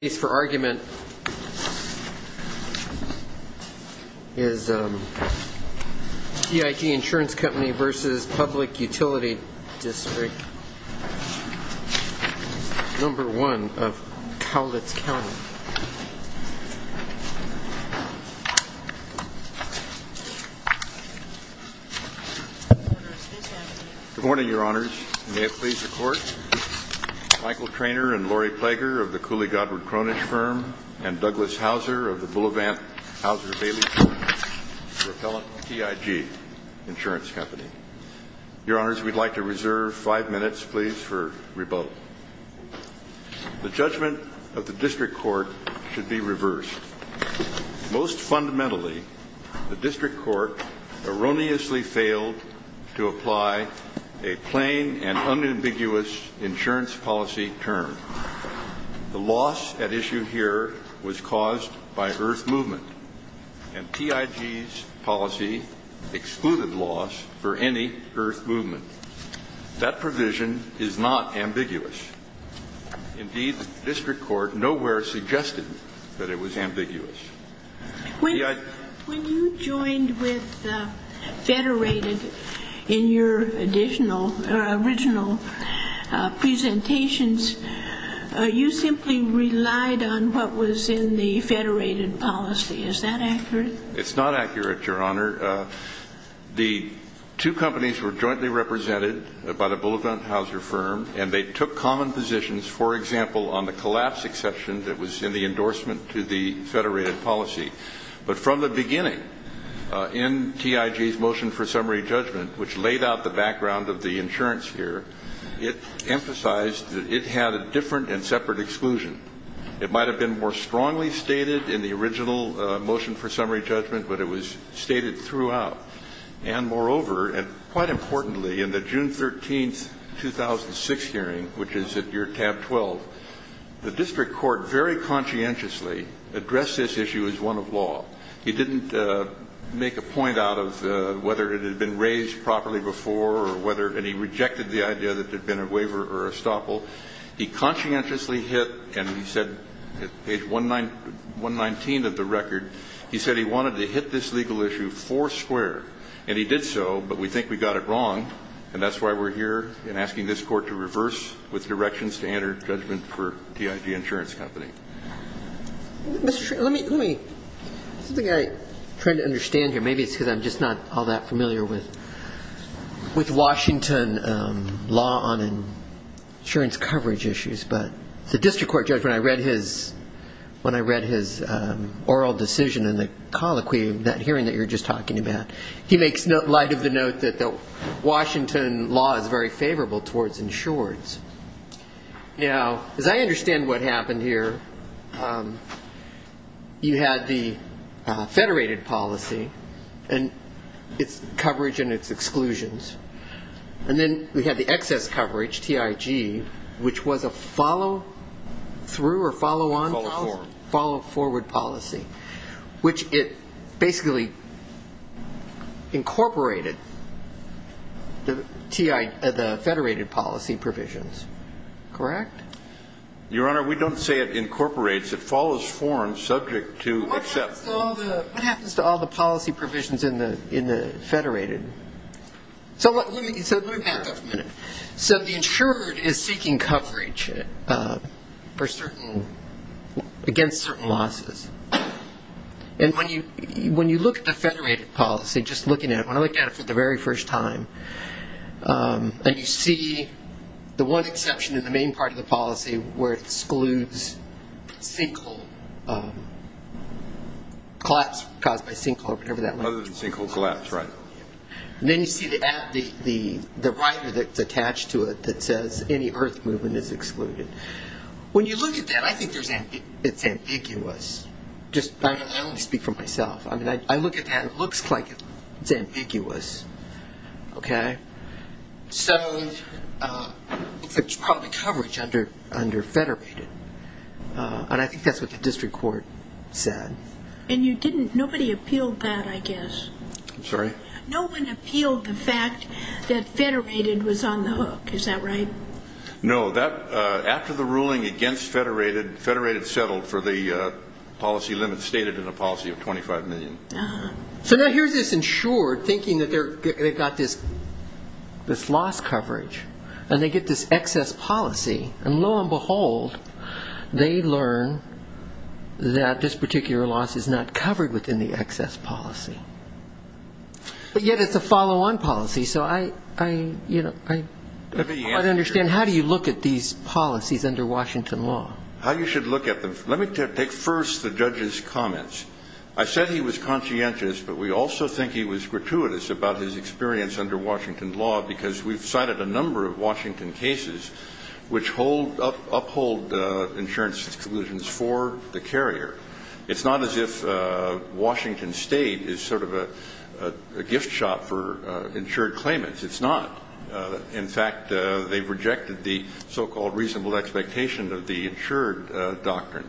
Good morning, Your Honors. May it please the Court, Michael Traynor and Lori Plager of the Cooley Godward Kroenig Firm and Douglas Hauser of the Boulevant Hauser-Bailey Group, a repellent TIG insurance company. Your Honors, we'd like to reserve five minutes, please, for rebuttal. The judgment of the District Court should be reversed. Most fundamentally, the District Court erroneously failed to apply a plain and unambiguous insurance policy term. The loss at issue here was caused by earth movement, and TIG's policy excluded loss for any earth movement. That provision is not ambiguous. Indeed, the District Court nowhere suggested that it was ambiguous. When you joined with Federated in your original presentations, you simply relied on what was in the Federated policy. Is that accurate? It's not accurate, Your Honor. The two companies were jointly represented by the Boulevant Hauser firm, and they took common positions, for example, on the collapse exception that the Federated policy. But from the beginning, in TIG's motion for summary judgment, which laid out the background of the insurance here, it emphasized that it had a different and separate exclusion. It might have been more strongly stated in the original motion for summary judgment, but it was stated throughout. And moreover, and quite importantly, in the address this issue as one of law. He didn't make a point out of whether it had been raised properly before or whether, and he rejected the idea that there had been a waiver or estoppel. He conscientiously hit, and he said, page 119 of the record, he said he wanted to hit this legal issue foursquare. And he did so, but we think we got it wrong, and that's why we're here in asking this Court to reverse with directions to enter judgment for TIG Insurance Company. Mr. Schroeder, let me, something I'm trying to understand here, maybe it's because I'm just not all that familiar with Washington law on insurance coverage issues, but the district court judge, when I read his oral decision in the colloquy, that hearing that you were just talking about, he makes light of the note that the Washington law is very You had the federated policy and its coverage and its exclusions. And then we had the excess coverage, TIG, which was a follow through or follow on, follow forward policy, which it basically incorporated the TIG, the federated policy provisions. Correct? Your Honor, we don't say it incorporates. It follows form subject to exception. What happens to all the policy provisions in the federated? So let me back up a minute. So the insured is seeking coverage for certain, against certain losses. And when you look at the federated policy, just looking at it, when I looked at it for the very first time, and you see the one exception in the main part of the policy where it excludes sinkhole, collapse caused by sinkhole or whatever that might be. Other than sinkhole collapse, right. And then you see the rider that's attached to it that says any earth movement is excluded. When you look at that, I think it's ambiguous. Just let me speak for myself. I mean, I look at that, it looks like it's ambiguous. Okay. So it's probably coverage under federated. And I think that's what the district court said. And you didn't, nobody appealed that, I guess. I'm sorry? No one appealed the fact that federated was on the hook. Is that right? No, that, after the ruling against federated, federated settled for the policy limit stated in a policy of 25 million. So now here's this insured thinking that they've got this loss coverage. And they get this excess policy. And lo and behold, they learn that this particular loss is not covered within the excess policy. But yet it's a follow-on policy. So I, you know, I don't quite understand how do you look at these policies under Washington law? How you should look at them? Let me take first the judge's comments. I said he was conscientious, but we also think he was gratuitous about his experience under Washington law, because we've cited a number of Washington cases which hold, uphold insurance exclusions for the carrier. It's not as if Washington State is sort of a gift shop for insured claimants. It's not. In fact, they've rejected the so-called reasonable expectation of the insured doctrine.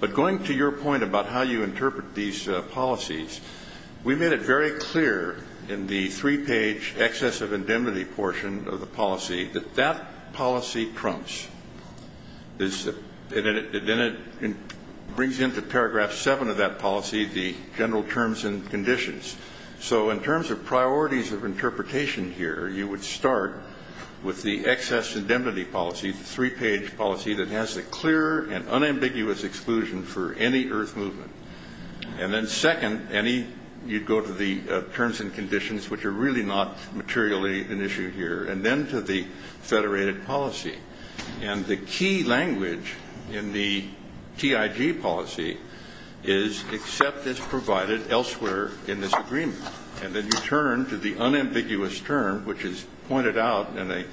But going to your point about how you interpret these policies, we made it very clear in the three-page excess of indemnity portion of the policy that that policy trumps. Then it brings into paragraph seven of that policy the general terms and conditions. So in terms of priorities of interpretation here, you would start with the excess indemnity policy, the three-page policy that has a clear and unambiguous exclusion for any earth movement. And then second, any, you'd go to the terms and conditions, which are really not materially an issue here, and then to the federated policy. And the key language in the TIG policy is except is provided elsewhere in this agreement. And then you turn to the unambiguous term, which is pointed out in a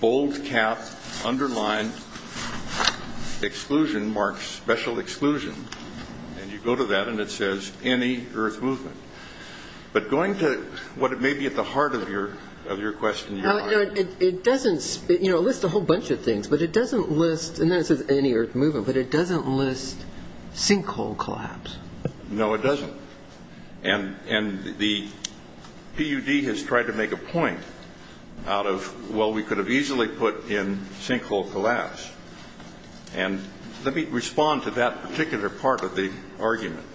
bold cap, underlined exclusion marks, special exclusion. And you go to that, and it says any earth movement. But going to what may be at the heart of your question, your argument. It lists a whole bunch of things, but it doesn't list, and then it says any earth movement, but it doesn't list sinkhole collapse. No, it doesn't. And the PUD has tried to make a point out of, well, we could have easily put in sinkhole collapse. And let me respond to that particular part of the argument.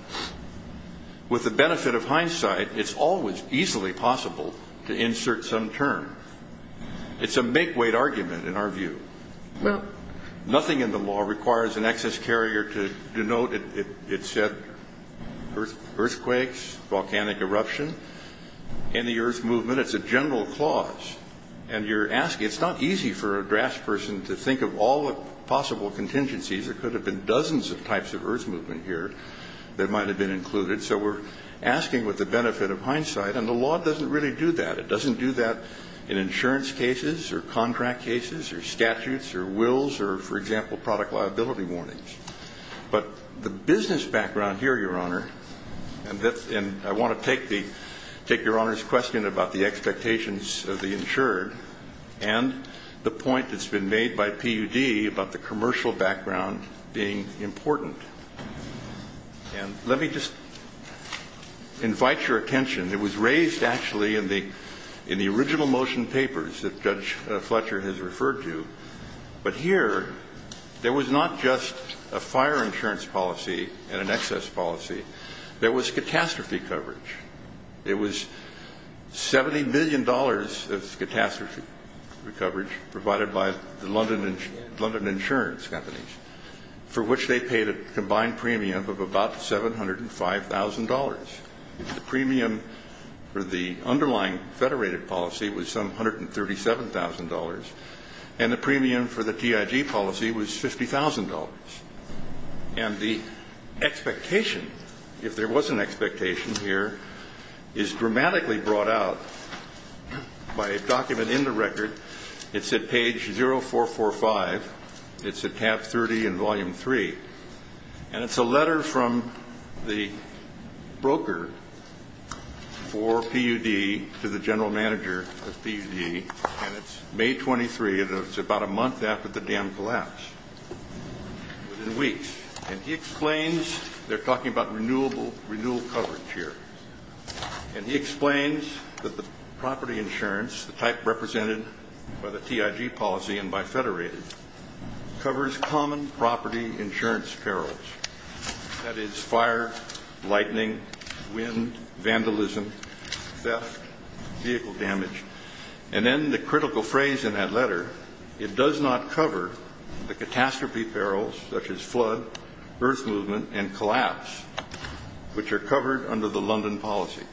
With the benefit of hindsight, it's always easily possible to insert some term. It's a make-weight argument in our view. Nothing in the law requires an excess carrier to denote, it said, earthquakes, volcanic eruption. Any earth movement, it's a general clause. And you're asking, it's not easy for a draftsperson to think of all the possible contingencies. There could have been dozens of types of earth movement here that might have been included. So we're asking with the benefit of hindsight. And the law doesn't really do that. It doesn't do that in insurance cases or contract cases or statutes or wills or, for example, product liability warnings. But the business background here, Your Honor, and I want to take Your Honor's question about the expectations of the insured and the point that's been made by PUD about the commercial background being important. And let me just invite your attention. It was raised actually in the original motion papers that Judge Fletcher has referred to. But here, there was not just a fire insurance policy and an excess policy. There was catastrophe coverage. It was $70 million of catastrophe coverage provided by the London insurance companies, for which they paid a combined premium of about $705,000. The premium for the underlying federated policy was some $137,000. And the premium for the TIG policy was $50,000. And the expectation, if there was an expectation here, is dramatically brought out by a document in the record. It's at page 0445. It's at tab 30 in volume 3. And it's a letter from the broker for PUD to the general manager of PUD. And it's May 23, and it's about a month after the dam collapsed. Within weeks. And he explains they're talking about renewal coverage here. And he explains that the property insurance, the type represented by the TIG policy and by federated, covers common property insurance perils. That is fire, lightning, wind, vandalism, theft, vehicle damage. And then the critical phrase in that letter, it does not cover the catastrophe perils such as flood, earth movement, and collapse, which are covered under the London policies.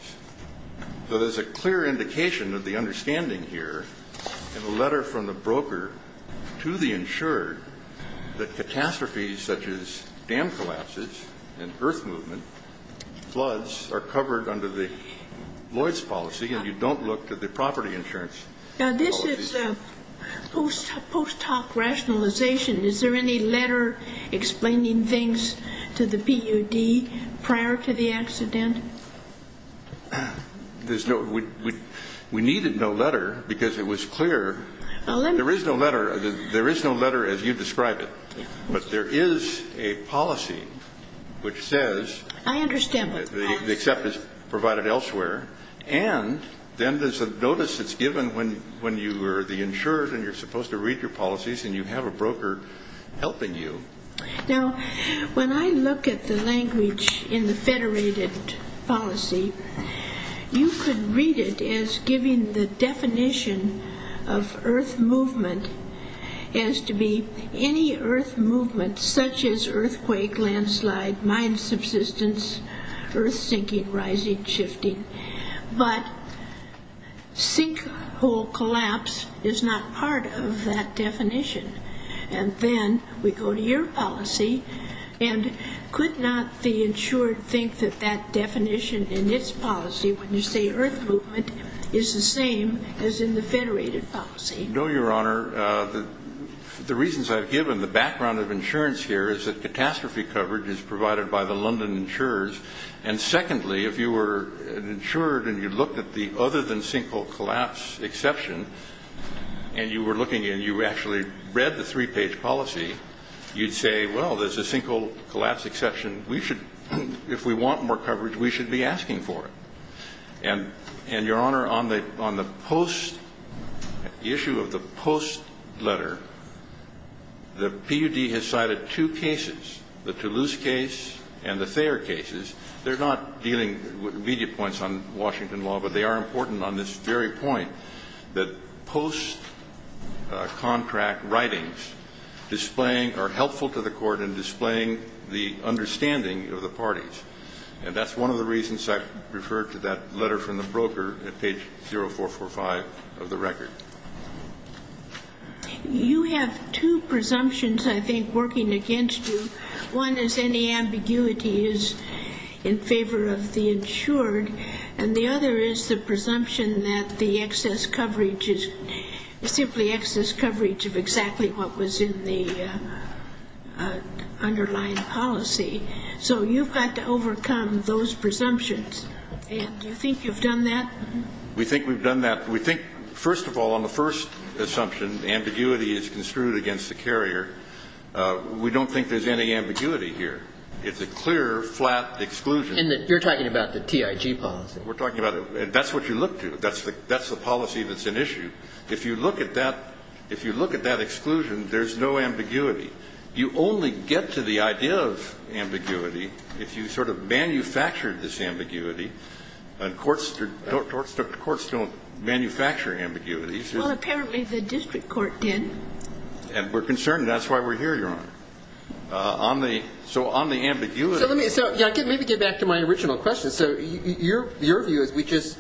So there's a clear indication of the understanding here in the letter from the broker to the insurer that catastrophes such as dam collapses and earth movement, floods, are covered under the Lloyd's policy, and you don't look to the property insurance. Now, this is post hoc rationalization. Is there any letter explaining things to the PUD prior to the accident? There's no. We needed no letter because it was clear. There is no letter. There is no letter as you describe it. But there is a policy which says. I understand. The accept is provided elsewhere. And then there's a notice that's given when you are the insured and you're supposed to read your policies and you have a broker helping you. Now, when I look at the language in the federated policy, you could read it as giving the definition of earth movement as to be any earth movement such as earthquake, landslide, mine subsistence, earth sinking, rising, shifting. But sinkhole collapse is not part of that definition. And then we go to your policy. And could not the insured think that that definition in its policy, when you say earth movement, is the same as in the federated policy? No, Your Honor. The reasons I've given, the background of insurance here, is that catastrophe coverage is provided by the London insurers. And secondly, if you were an insured and you looked at the other than sinkhole collapse exception and you were looking and you actually read the three-page policy, you'd say, well, there's a sinkhole collapse exception. If we want more coverage, we should be asking for it. And, Your Honor, on the post, the issue of the post letter, the PUD has cited two cases, the Toulouse case and the Thayer cases. They're not dealing with media points on Washington law, but they are important on this very point that post-contract writings are helpful to the Court in displaying the understanding of the parties. And that's one of the reasons I referred to that letter from the broker at page 0445 of the record. You have two presumptions, I think, working against you. One is any ambiguity is in favor of the insured, and the other is the presumption that the excess coverage is simply excess coverage of exactly what was in the underlying policy. So you've got to overcome those presumptions. And do you think you've done that? We think we've done that. We think, first of all, on the first assumption, ambiguity is construed against the carrier. We don't think there's any ambiguity here. It's a clear, flat exclusion. And you're talking about the TIG policy. We're talking about it. That's what you look to. That's the policy that's an issue. If you look at that exclusion, there's no ambiguity. You only get to the idea of ambiguity if you sort of manufacture this ambiguity. And courts don't manufacture ambiguities. Well, apparently the district court did. And we're concerned. That's why we're here, Your Honor. So on the ambiguity. So let me get back to my original question. So your view is we just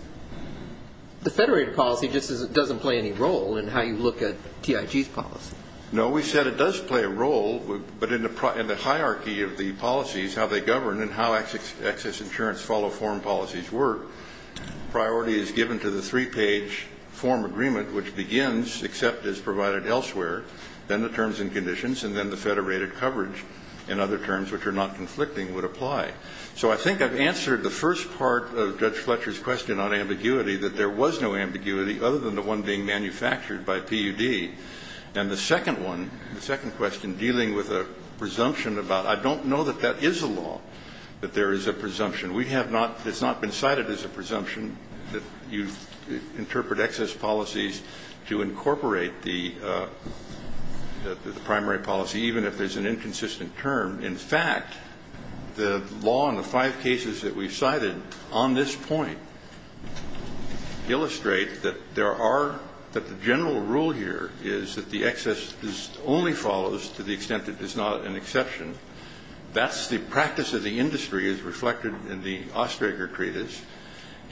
the federated policy just doesn't play any role in how you look at TIG's policy. No, we said it does play a role. But in the hierarchy of the policies, how they govern and how access insurance follow form policies work, priority is given to the three-page form agreement, which begins, except is provided elsewhere, then the terms and conditions, and then the federated coverage and other terms, which are not conflicting, would apply. So I think I've answered the first part of Judge Fletcher's question on ambiguity, that there was no ambiguity other than the one being manufactured by PUD. And the second one, the second question, dealing with a presumption about I don't know that that is a law, that there is a presumption. We have not been cited as a presumption that you interpret excess policies to incorporate the primary policy, even if there's an inconsistent term. In fact, the law in the five cases that we've cited on this point illustrates that there are that the general rule here is that the excess only follows to the extent it is not an exception. That's the practice of the industry, as reflected in the Osterager treatise.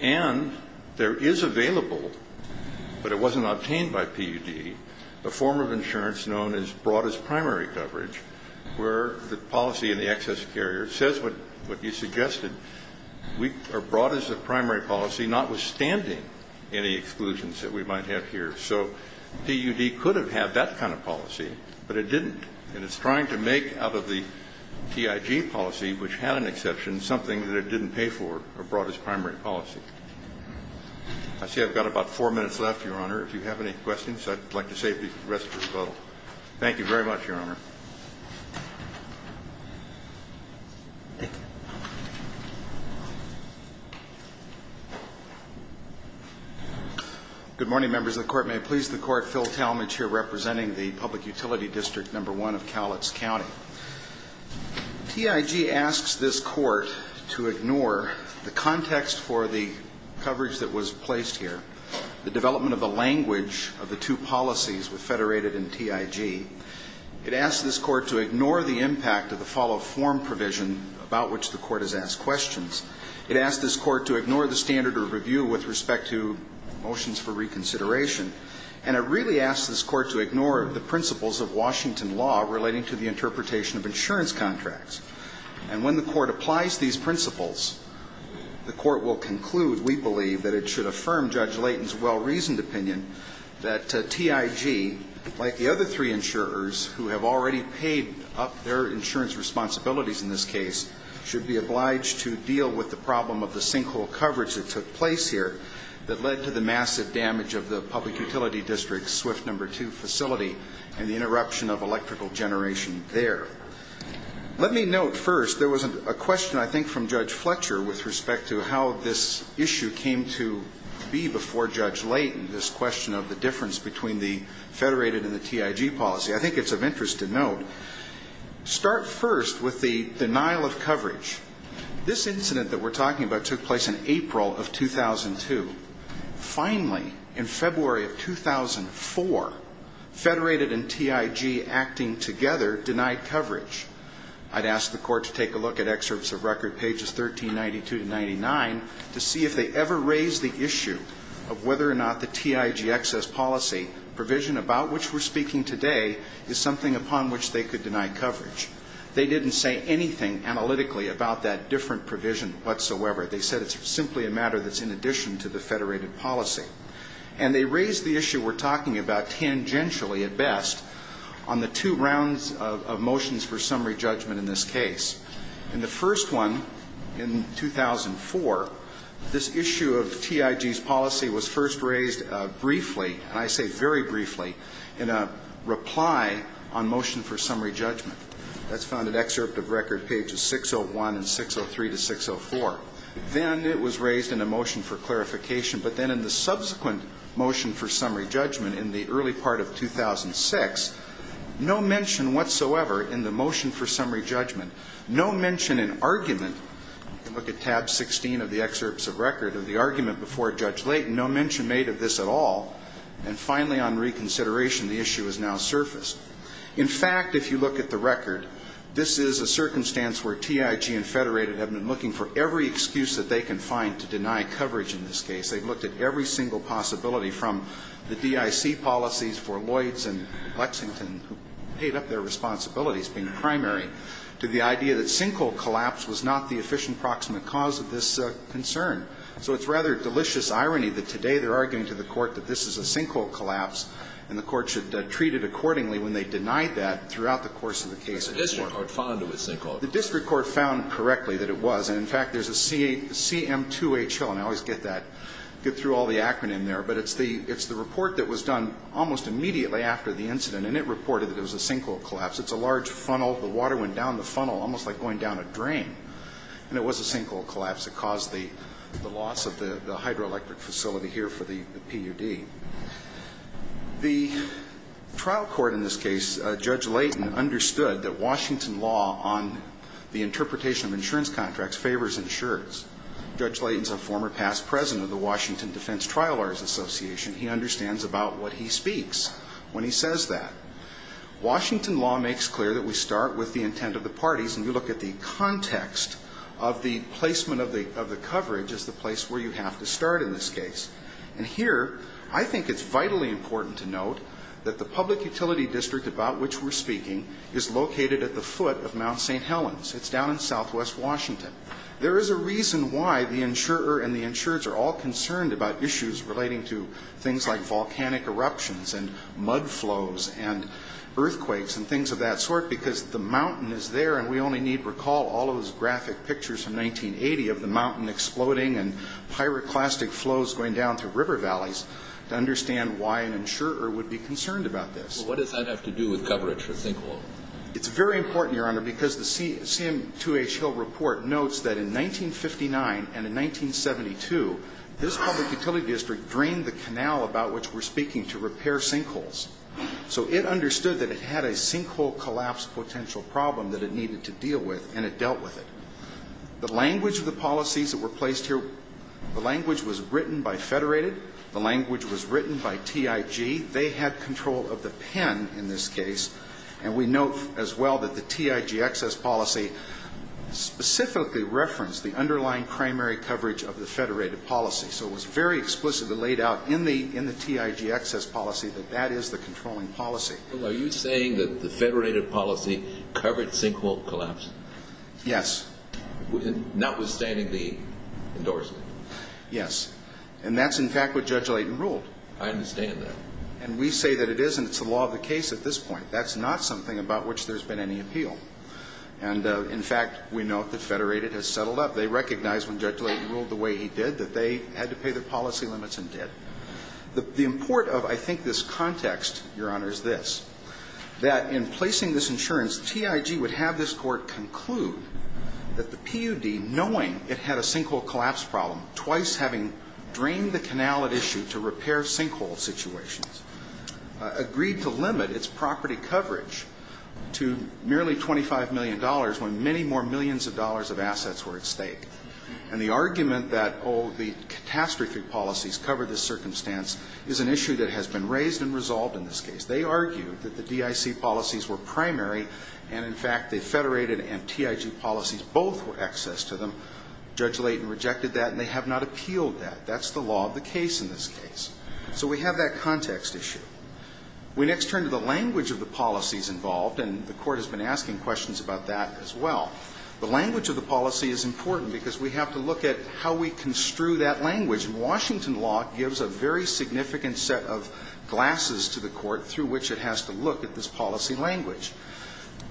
And there is available, but it wasn't obtained by PUD, a form of insurance known as broad as primary coverage, where the policy in the excess carrier says what you suggested. We are broad as a primary policy, notwithstanding any exclusions that we might have here. So PUD could have had that kind of policy, but it didn't. And it's trying to make out of the TIG policy, which had an exception, something that it didn't pay for, a broad as primary policy. I see I've got about four minutes left, Your Honor. If you have any questions, I'd like to save the rest for the bottle. Thank you very much, Your Honor. Good morning, Members of the Court. May it please the Court, Phil Talmadge here, representing the Public Utility District No. 1 of Cowlitz County. TIG asks this Court to ignore the context for the coverage that was placed here, the development of the language of the two policies federated in TIG. It asks this Court to ignore the impact of the follow-up form provision about which the Court has asked questions. It asks this Court to ignore the standard of review with respect to motions for reconsideration. And it really asks this Court to ignore the principles of Washington law relating to the interpretation of insurance contracts. And when the Court applies these principles, the Court will conclude, we believe, that it should affirm Judge Layton's well-reasoned opinion that TIG, like the other three insurers who have already paid up their insurance responsibilities in this case, should be obliged to deal with the problem of the sinkhole coverage that took place here that led to the massive damage of the Public Utility District's SWIFT No. 2 facility and the interruption of electrical generation there. Let me note first, there was a question, I think, from Judge Fletcher with respect to how this issue came to be before Judge Layton, this question of the difference between the federated and the TIG policy. I think it's of interest to note, start first with the denial of coverage. This incident that we're talking about took place in April of 2002. Finally, in February of 2004, federated and TIG acting together denied coverage. I'd ask the Court to take a look at excerpts of record, pages 1392 to 99, to see if they ever raised the issue of whether or not the TIG excess policy provision about which we're speaking today is something upon which they could deny coverage. They didn't say anything analytically about that different provision whatsoever. They said it's simply a matter that's in addition to the federated policy. And they raised the issue we're talking about tangentially at best on the two rounds of motions for summary judgment in this case. In the first one, in 2004, this issue of TIG's policy was first raised briefly, and I say very briefly, in a reply on motion for summary judgment. That's found in excerpt of record pages 601 and 603 to 604. Then it was raised in a motion for clarification. But then in the subsequent motion for summary judgment in the early part of 2006, no mention whatsoever in the motion for summary judgment, no mention in argument to look at tab 16 of the excerpts of record of the argument before Judge Layton, no mention made of this at all. And finally, on reconsideration, the issue has now surfaced. In fact, if you look at the record, this is a circumstance where TIG and federated have been looking for every excuse that they can find to deny coverage in this case. They've looked at every single possibility from the DIC policies for Lloyds and Lexington, who paid up their responsibilities being primary, to the idea that sinkhole collapse was not the efficient proximate cause of this concern. So it's rather delicious irony that today they're arguing to the Court that this is a sinkhole collapse, and the Court should treat it accordingly when they deny that throughout the course of the case. The district court found it was sinkhole collapse. The district court found correctly that it was. And, in fact, there's a CM2HL, and I always get that, get through all the acronym there, but it's the report that was done almost immediately after the incident, and it reported that it was a sinkhole collapse. It's a large funnel. The water went down the funnel almost like going down a drain, and it was a sinkhole collapse that caused the loss of the hydroelectric facility here for the PUD. The trial court in this case, Judge Layton, understood that Washington law on the favors insureds. Judge Layton's a former past president of the Washington Defense Trial Lawyers Association. He understands about what he speaks when he says that. Washington law makes clear that we start with the intent of the parties, and you look at the context of the placement of the coverage as the place where you have to start in this case. And here I think it's vitally important to note that the public utility district about which we're speaking is located at the foot of Mount St. Helens. It's down in southwest Washington. There is a reason why the insurer and the insureds are all concerned about issues relating to things like volcanic eruptions and mud flows and earthquakes and things of that sort, because the mountain is there, and we only need to recall all those graphic pictures from 1980 of the mountain exploding and pyroclastic flows going down through river valleys to understand why an insurer would be concerned about this. Well, what does that have to do with coverage for a sinkhole? It's very important, Your Honor, because the CM2H Hill report notes that in 1959 and in 1972, this public utility district drained the canal about which we're speaking to repair sinkholes. So it understood that it had a sinkhole collapse potential problem that it needed to deal with, and it dealt with it. The language of the policies that were placed here, the language was written by Federated. The language was written by TIG. They had control of the pen in this case, and we note as well that the TIG access policy specifically referenced the underlying primary coverage of the Federated policy. So it was very explicitly laid out in the TIG access policy that that is the controlling policy. Are you saying that the Federated policy covered sinkhole collapse? Yes. Notwithstanding the endorsement? Yes. And that's, in fact, what Judge Layton ruled. I understand that. And we say that it isn't. It's the law of the case at this point. That's not something about which there's been any appeal. And, in fact, we note that Federated has settled up. They recognized when Judge Layton ruled the way he did that they had to pay their policy limits and did. The import of, I think, this context, Your Honor, is this, that in placing this insurance, TIG would have this Court conclude that the PUD, knowing it had a sinkhole collapse problem, twice having drained the canal at issue to repair sinkhole situations, agreed to limit its property coverage to merely $25 million when many more millions of dollars of assets were at stake. And the argument that, oh, the catastrophe policies covered this circumstance is an issue that has been raised and resolved in this case. They argued that the DIC policies were primary, and, in fact, the Federated and TIG policies both were access to them. Judge Layton rejected that, and they have not appealed that. That's the law of the case in this case. So we have that context issue. We next turn to the language of the policies involved, and the Court has been asking questions about that as well. The language of the policy is important because we have to look at how we construe that language. And Washington law gives a very significant set of glasses to the Court through which it has to look at this policy language.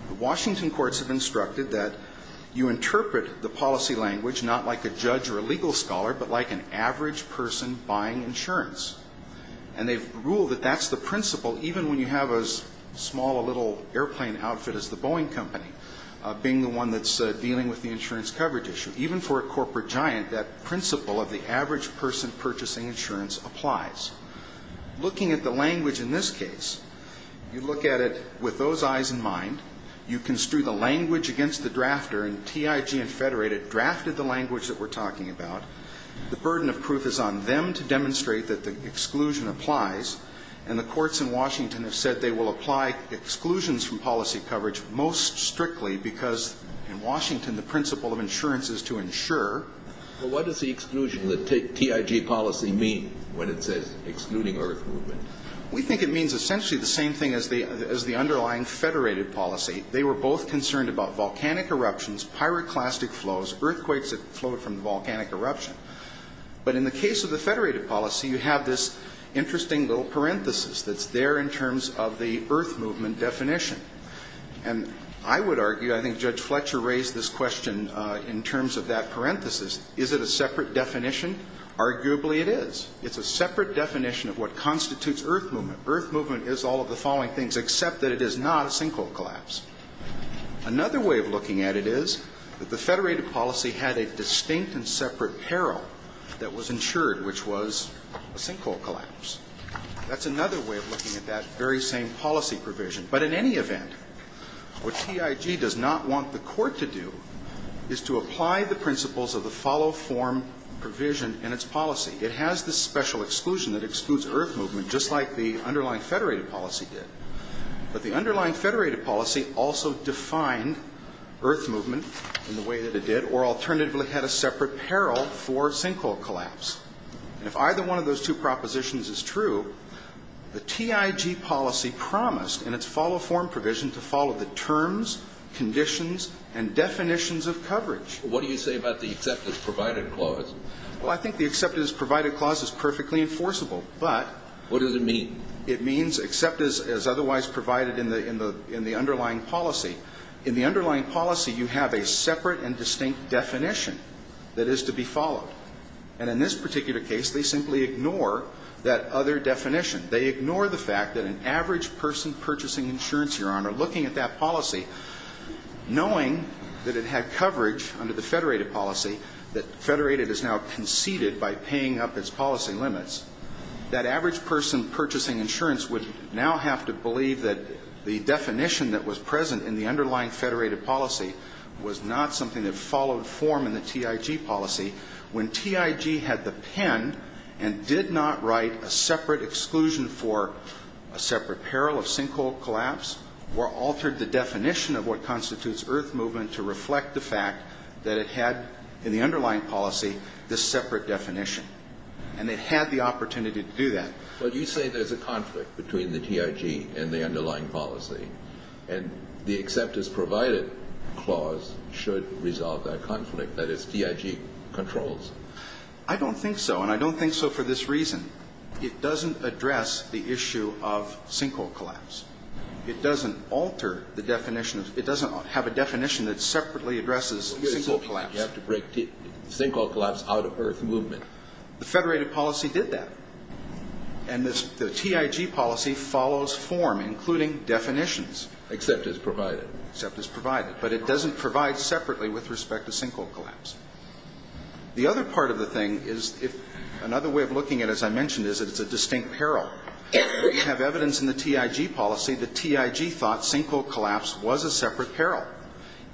The Washington courts have instructed that you interpret the policy language not like a judge or a legal scholar, but like an average person buying insurance. And they've ruled that that's the principle even when you have as small a little airplane outfit as the Boeing company being the one that's dealing with the insurance coverage issue. Even for a corporate giant, that principle of the average person purchasing insurance applies. Looking at the language in this case, you look at it with those eyes in mind. You construe the language against the drafter, and TIG and Federated drafted the language that we're talking about. The burden of proof is on them to demonstrate that the exclusion applies. And the courts in Washington have said they will apply exclusions from policy coverage most strictly because in Washington the principle of insurance is to insure. Well, what does the exclusion, the TIG policy mean when it says excluding earth movement? We think it means essentially the same thing as the underlying Federated policy. They were both concerned about volcanic eruptions, pyroclastic flows, earthquakes that flowed from volcanic eruption. But in the case of the Federated policy, you have this interesting little parenthesis that's there in terms of the earth movement definition. And I would argue, I think Judge Fletcher raised this question in terms of that parenthesis, is it a separate definition? Arguably it is. It's a separate definition of what constitutes earth movement. Earth movement is all of the following things except that it is not a sinkhole collapse. Another way of looking at it is that the Federated policy had a distinct and separate peril that was insured, which was a sinkhole collapse. That's another way of looking at that very same policy provision. But in any event, what TIG does not want the court to do is to apply the principles of the follow-form provision in its policy. It has this special exclusion that excludes earth movement, just like the underlying Federated policy did. But the underlying Federated policy also defined earth movement in the way that it did, or alternatively had a separate peril for sinkhole collapse. And if either one of those two propositions is true, the TIG policy promised, in its follow-form provision, to follow the terms, conditions, and definitions of coverage. What do you say about the accept as provided clause? Well, I think the accept as provided clause is perfectly enforceable. But... What does it mean? It means accept as otherwise provided in the underlying policy. In the underlying policy, you have a separate and distinct definition that is to be followed. And in this particular case, they simply ignore that other definition. They ignore the fact that an average person purchasing insurance, Your Honor, looking at that policy, knowing that it had coverage under the Federated policy, that Federated has now conceded by paying up its policy limits, that average person purchasing insurance would now have to believe that the definition that was present in the underlying Federated policy was not something that followed form in the TIG policy when TIG had the pen and did not write a separate exclusion for a separate peril of sinkhole collapse or altered the definition of what constitutes earth movement to reflect the fact that it had, in the underlying policy, this separate definition. And it had the opportunity to do that. But you say there's a conflict between the TIG and the underlying policy. And the accept as provided clause should resolve that conflict. That is, TIG controls. I don't think so. And I don't think so for this reason. It doesn't address the issue of sinkhole collapse. It doesn't alter the definition. It doesn't have a definition that separately addresses sinkhole collapse. You have to break sinkhole collapse out of earth movement. The Federated policy did that. And the TIG policy follows form, including definitions. Except as provided. Except as provided. But it doesn't provide separately with respect to sinkhole collapse. The other part of the thing is, another way of looking at it, as I mentioned, is that it's a distinct peril. We have evidence in the TIG policy that TIG thought sinkhole collapse was a separate peril.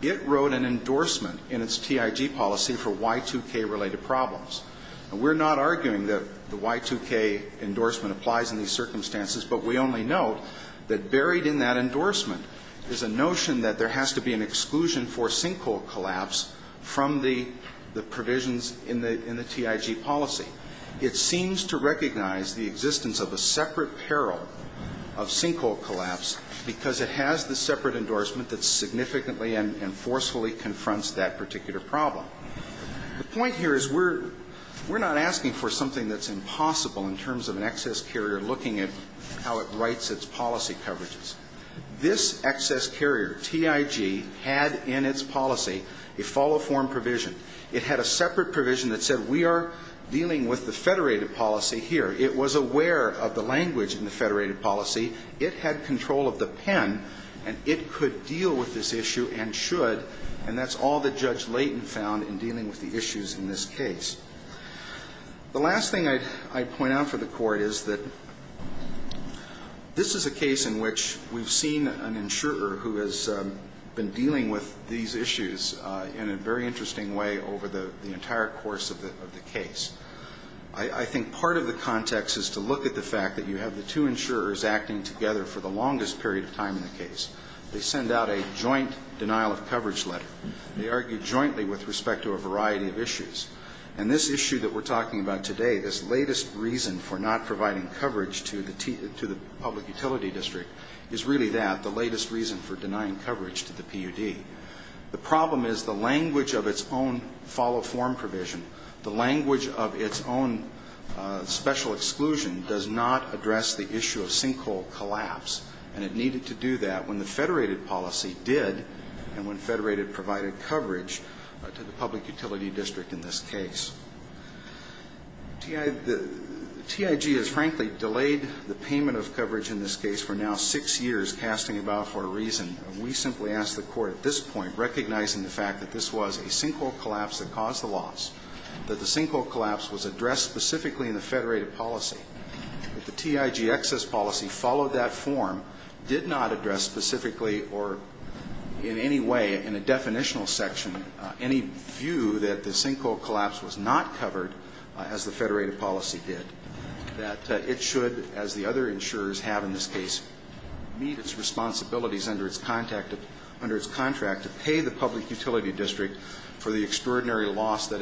It wrote an endorsement in its TIG policy for Y2K-related problems. And we're not arguing that the Y2K endorsement applies in these circumstances, but we only note that buried in that endorsement is a notion that there has to be an exclusion for sinkhole collapse from the provisions in the TIG policy. It seems to recognize the existence of a separate peril of sinkhole collapse because it has the separate endorsement that significantly and forcefully confronts that particular problem. The point here is we're not asking for something that's impossible in terms of an excess carrier looking at how it writes its policy coverages. This excess carrier, TIG, had in its policy a follow-form provision. It had a separate provision that said we are dealing with the Federated policy here. It was aware of the language in the Federated policy. It had control of the pen. And it could deal with this issue and should. And that's all that Judge Layton found in dealing with the issues in this case. The last thing I'd point out for the Court is that this is a case in which we've seen an insurer who has been dealing with these issues in a very interesting way over the entire course of the case. I think part of the context is to look at the fact that you have the two insurers They send out a joint denial of coverage letter. They argue jointly with respect to a variety of issues. And this issue that we're talking about today, this latest reason for not providing coverage to the public utility district is really that, the latest reason for denying coverage to the PUD. The problem is the language of its own follow-form provision, the language of its own special exclusion does not address the issue of sinkhole collapse. And it needed to do that when the Federated policy did and when Federated provided coverage to the public utility district in this case. TIG has frankly delayed the payment of coverage in this case for now six years, casting it out for a reason. We simply ask the Court at this point, recognizing the fact that this was a sinkhole collapse that caused the loss, that the sinkhole collapse was addressed specifically in the Federated policy. The TIG excess policy followed that form, did not address specifically or in any way in a definitional section any view that the sinkhole collapse was not covered as the Federated policy did. That it should, as the other insurers have in this case, meet its responsibilities under its contract to pay the public utility district for the extraordinary loss that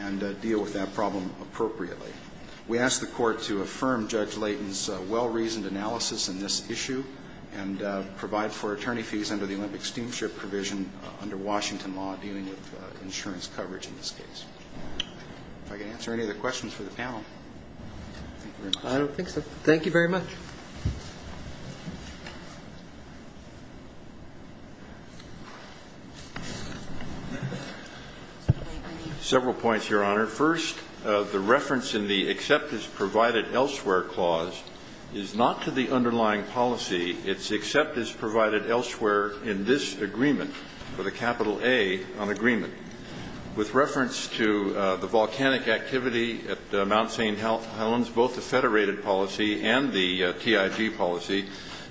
And deal with that problem appropriately. We ask the Court to affirm Judge Layton's well-reasoned analysis in this issue and provide for attorney fees under the Olympic Steamship provision under Washington law dealing with insurance coverage in this case. If I can answer any of the questions for the panel. Thank you very much. I don't think so. Thank you very much. Several points, Your Honor. First, the reference in the except is provided elsewhere clause is not to the underlying policy. It's except is provided elsewhere in this agreement, with a capital A on agreement. With reference to the volcanic activity at Mount St. Helens, both the Federated policy and the TIG policy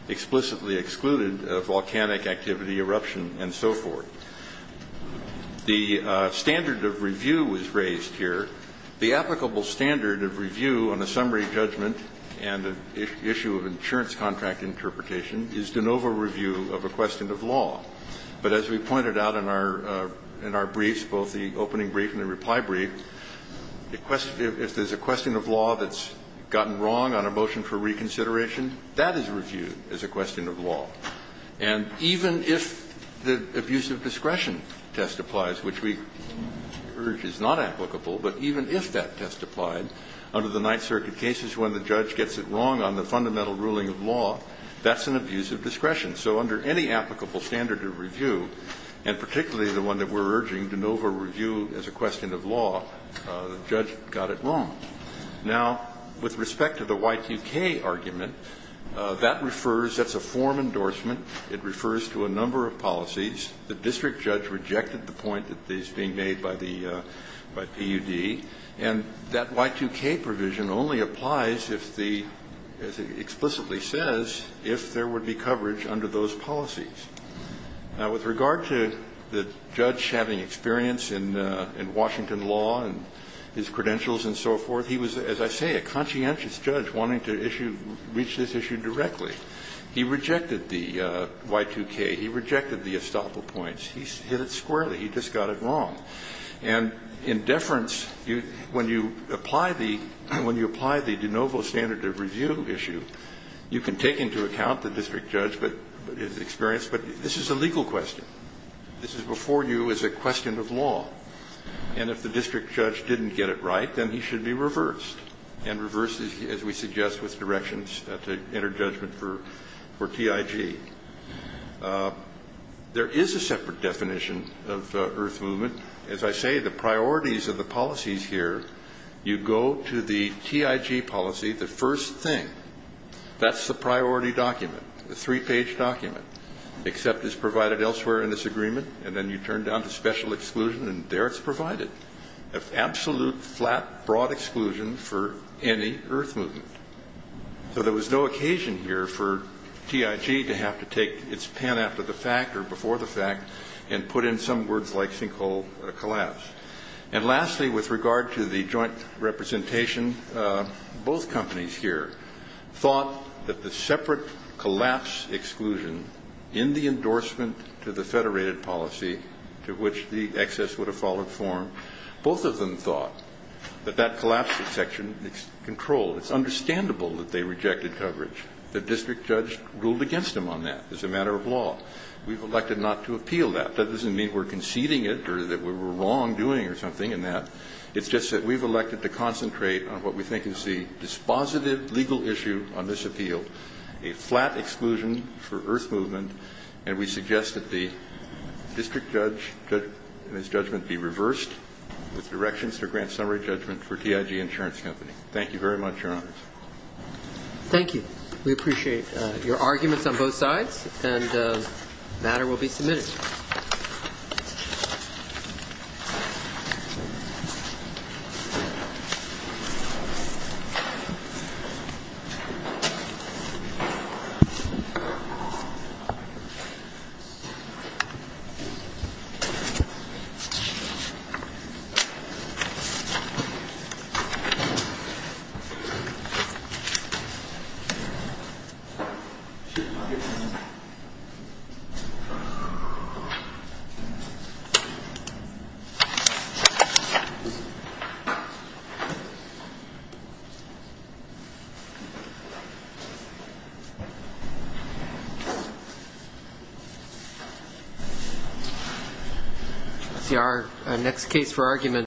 explicitly excluded volcanic activity, eruption, and so forth. The standard of review was raised here. The applicable standard of review on a summary judgment and an issue of insurance contract interpretation is de novo review of a question of law. But as we pointed out in our briefs, both the opening brief and the reply brief, if there's a question of law that's gotten wrong on a motion for reconsideration, that is reviewed as a question of law. And even if the abusive discretion test applies, which we urge is not applicable, but even if that test applied under the Ninth Circuit cases when the judge gets it wrong on the fundamental ruling of law, that's an abuse of discretion. So under any applicable standard of review, and particularly the one that we're talking about, the judge got it wrong. Now, with respect to the Y2K argument, that refers, that's a form endorsement. It refers to a number of policies. The district judge rejected the point that is being made by the, by PUD. And that Y2K provision only applies if the, as it explicitly says, if there would be coverage under those policies. Now, with regard to the judge having experience in Washington law and his credentials and so forth, he was, as I say, a conscientious judge wanting to issue, reach this issue directly. He rejected the Y2K. He rejected the estoppel points. He hit it squarely. He just got it wrong. And in deference, when you apply the, when you apply the de novo standard of review issue, you can take into account the district judge, but his experience. But this is a legal question. This is before you as a question of law. And if the district judge didn't get it right, then he should be reversed. And reversed, as we suggest, with directions at the interjudgment for, for TIG. There is a separate definition of earth movement. As I say, the priorities of the policies here, you go to the TIG policy, the first thing, that's the priority document, the three-page document. Accept is provided elsewhere in this agreement, and then you turn down to special exclusion, and there it's provided. An absolute, flat, broad exclusion for any earth movement. So there was no occasion here for TIG to have to take its pen after the fact or before the fact and put in some words like sinkhole collapse. And lastly, with regard to the joint representation, both companies here thought that the separate collapse exclusion in the endorsement to the federated policy, to which the excess would have followed form, both of them thought that that collapse section is controlled. It's understandable that they rejected coverage. The district judge ruled against them on that. It's a matter of law. We've elected not to appeal that. That doesn't mean we're conceding it or that we're wrongdoing or something in that. It's just that we've elected to concentrate on what we think is the dispositive legal issue on this appeal, a flat exclusion for earth movement, and we suggest that the district judge and his judgment be reversed with directions to grant summary judgment for TIG Insurance Company. Thank you very much, Your Honors. Thank you. We appreciate your arguments on both sides. And the matter will be submitted. Thank you.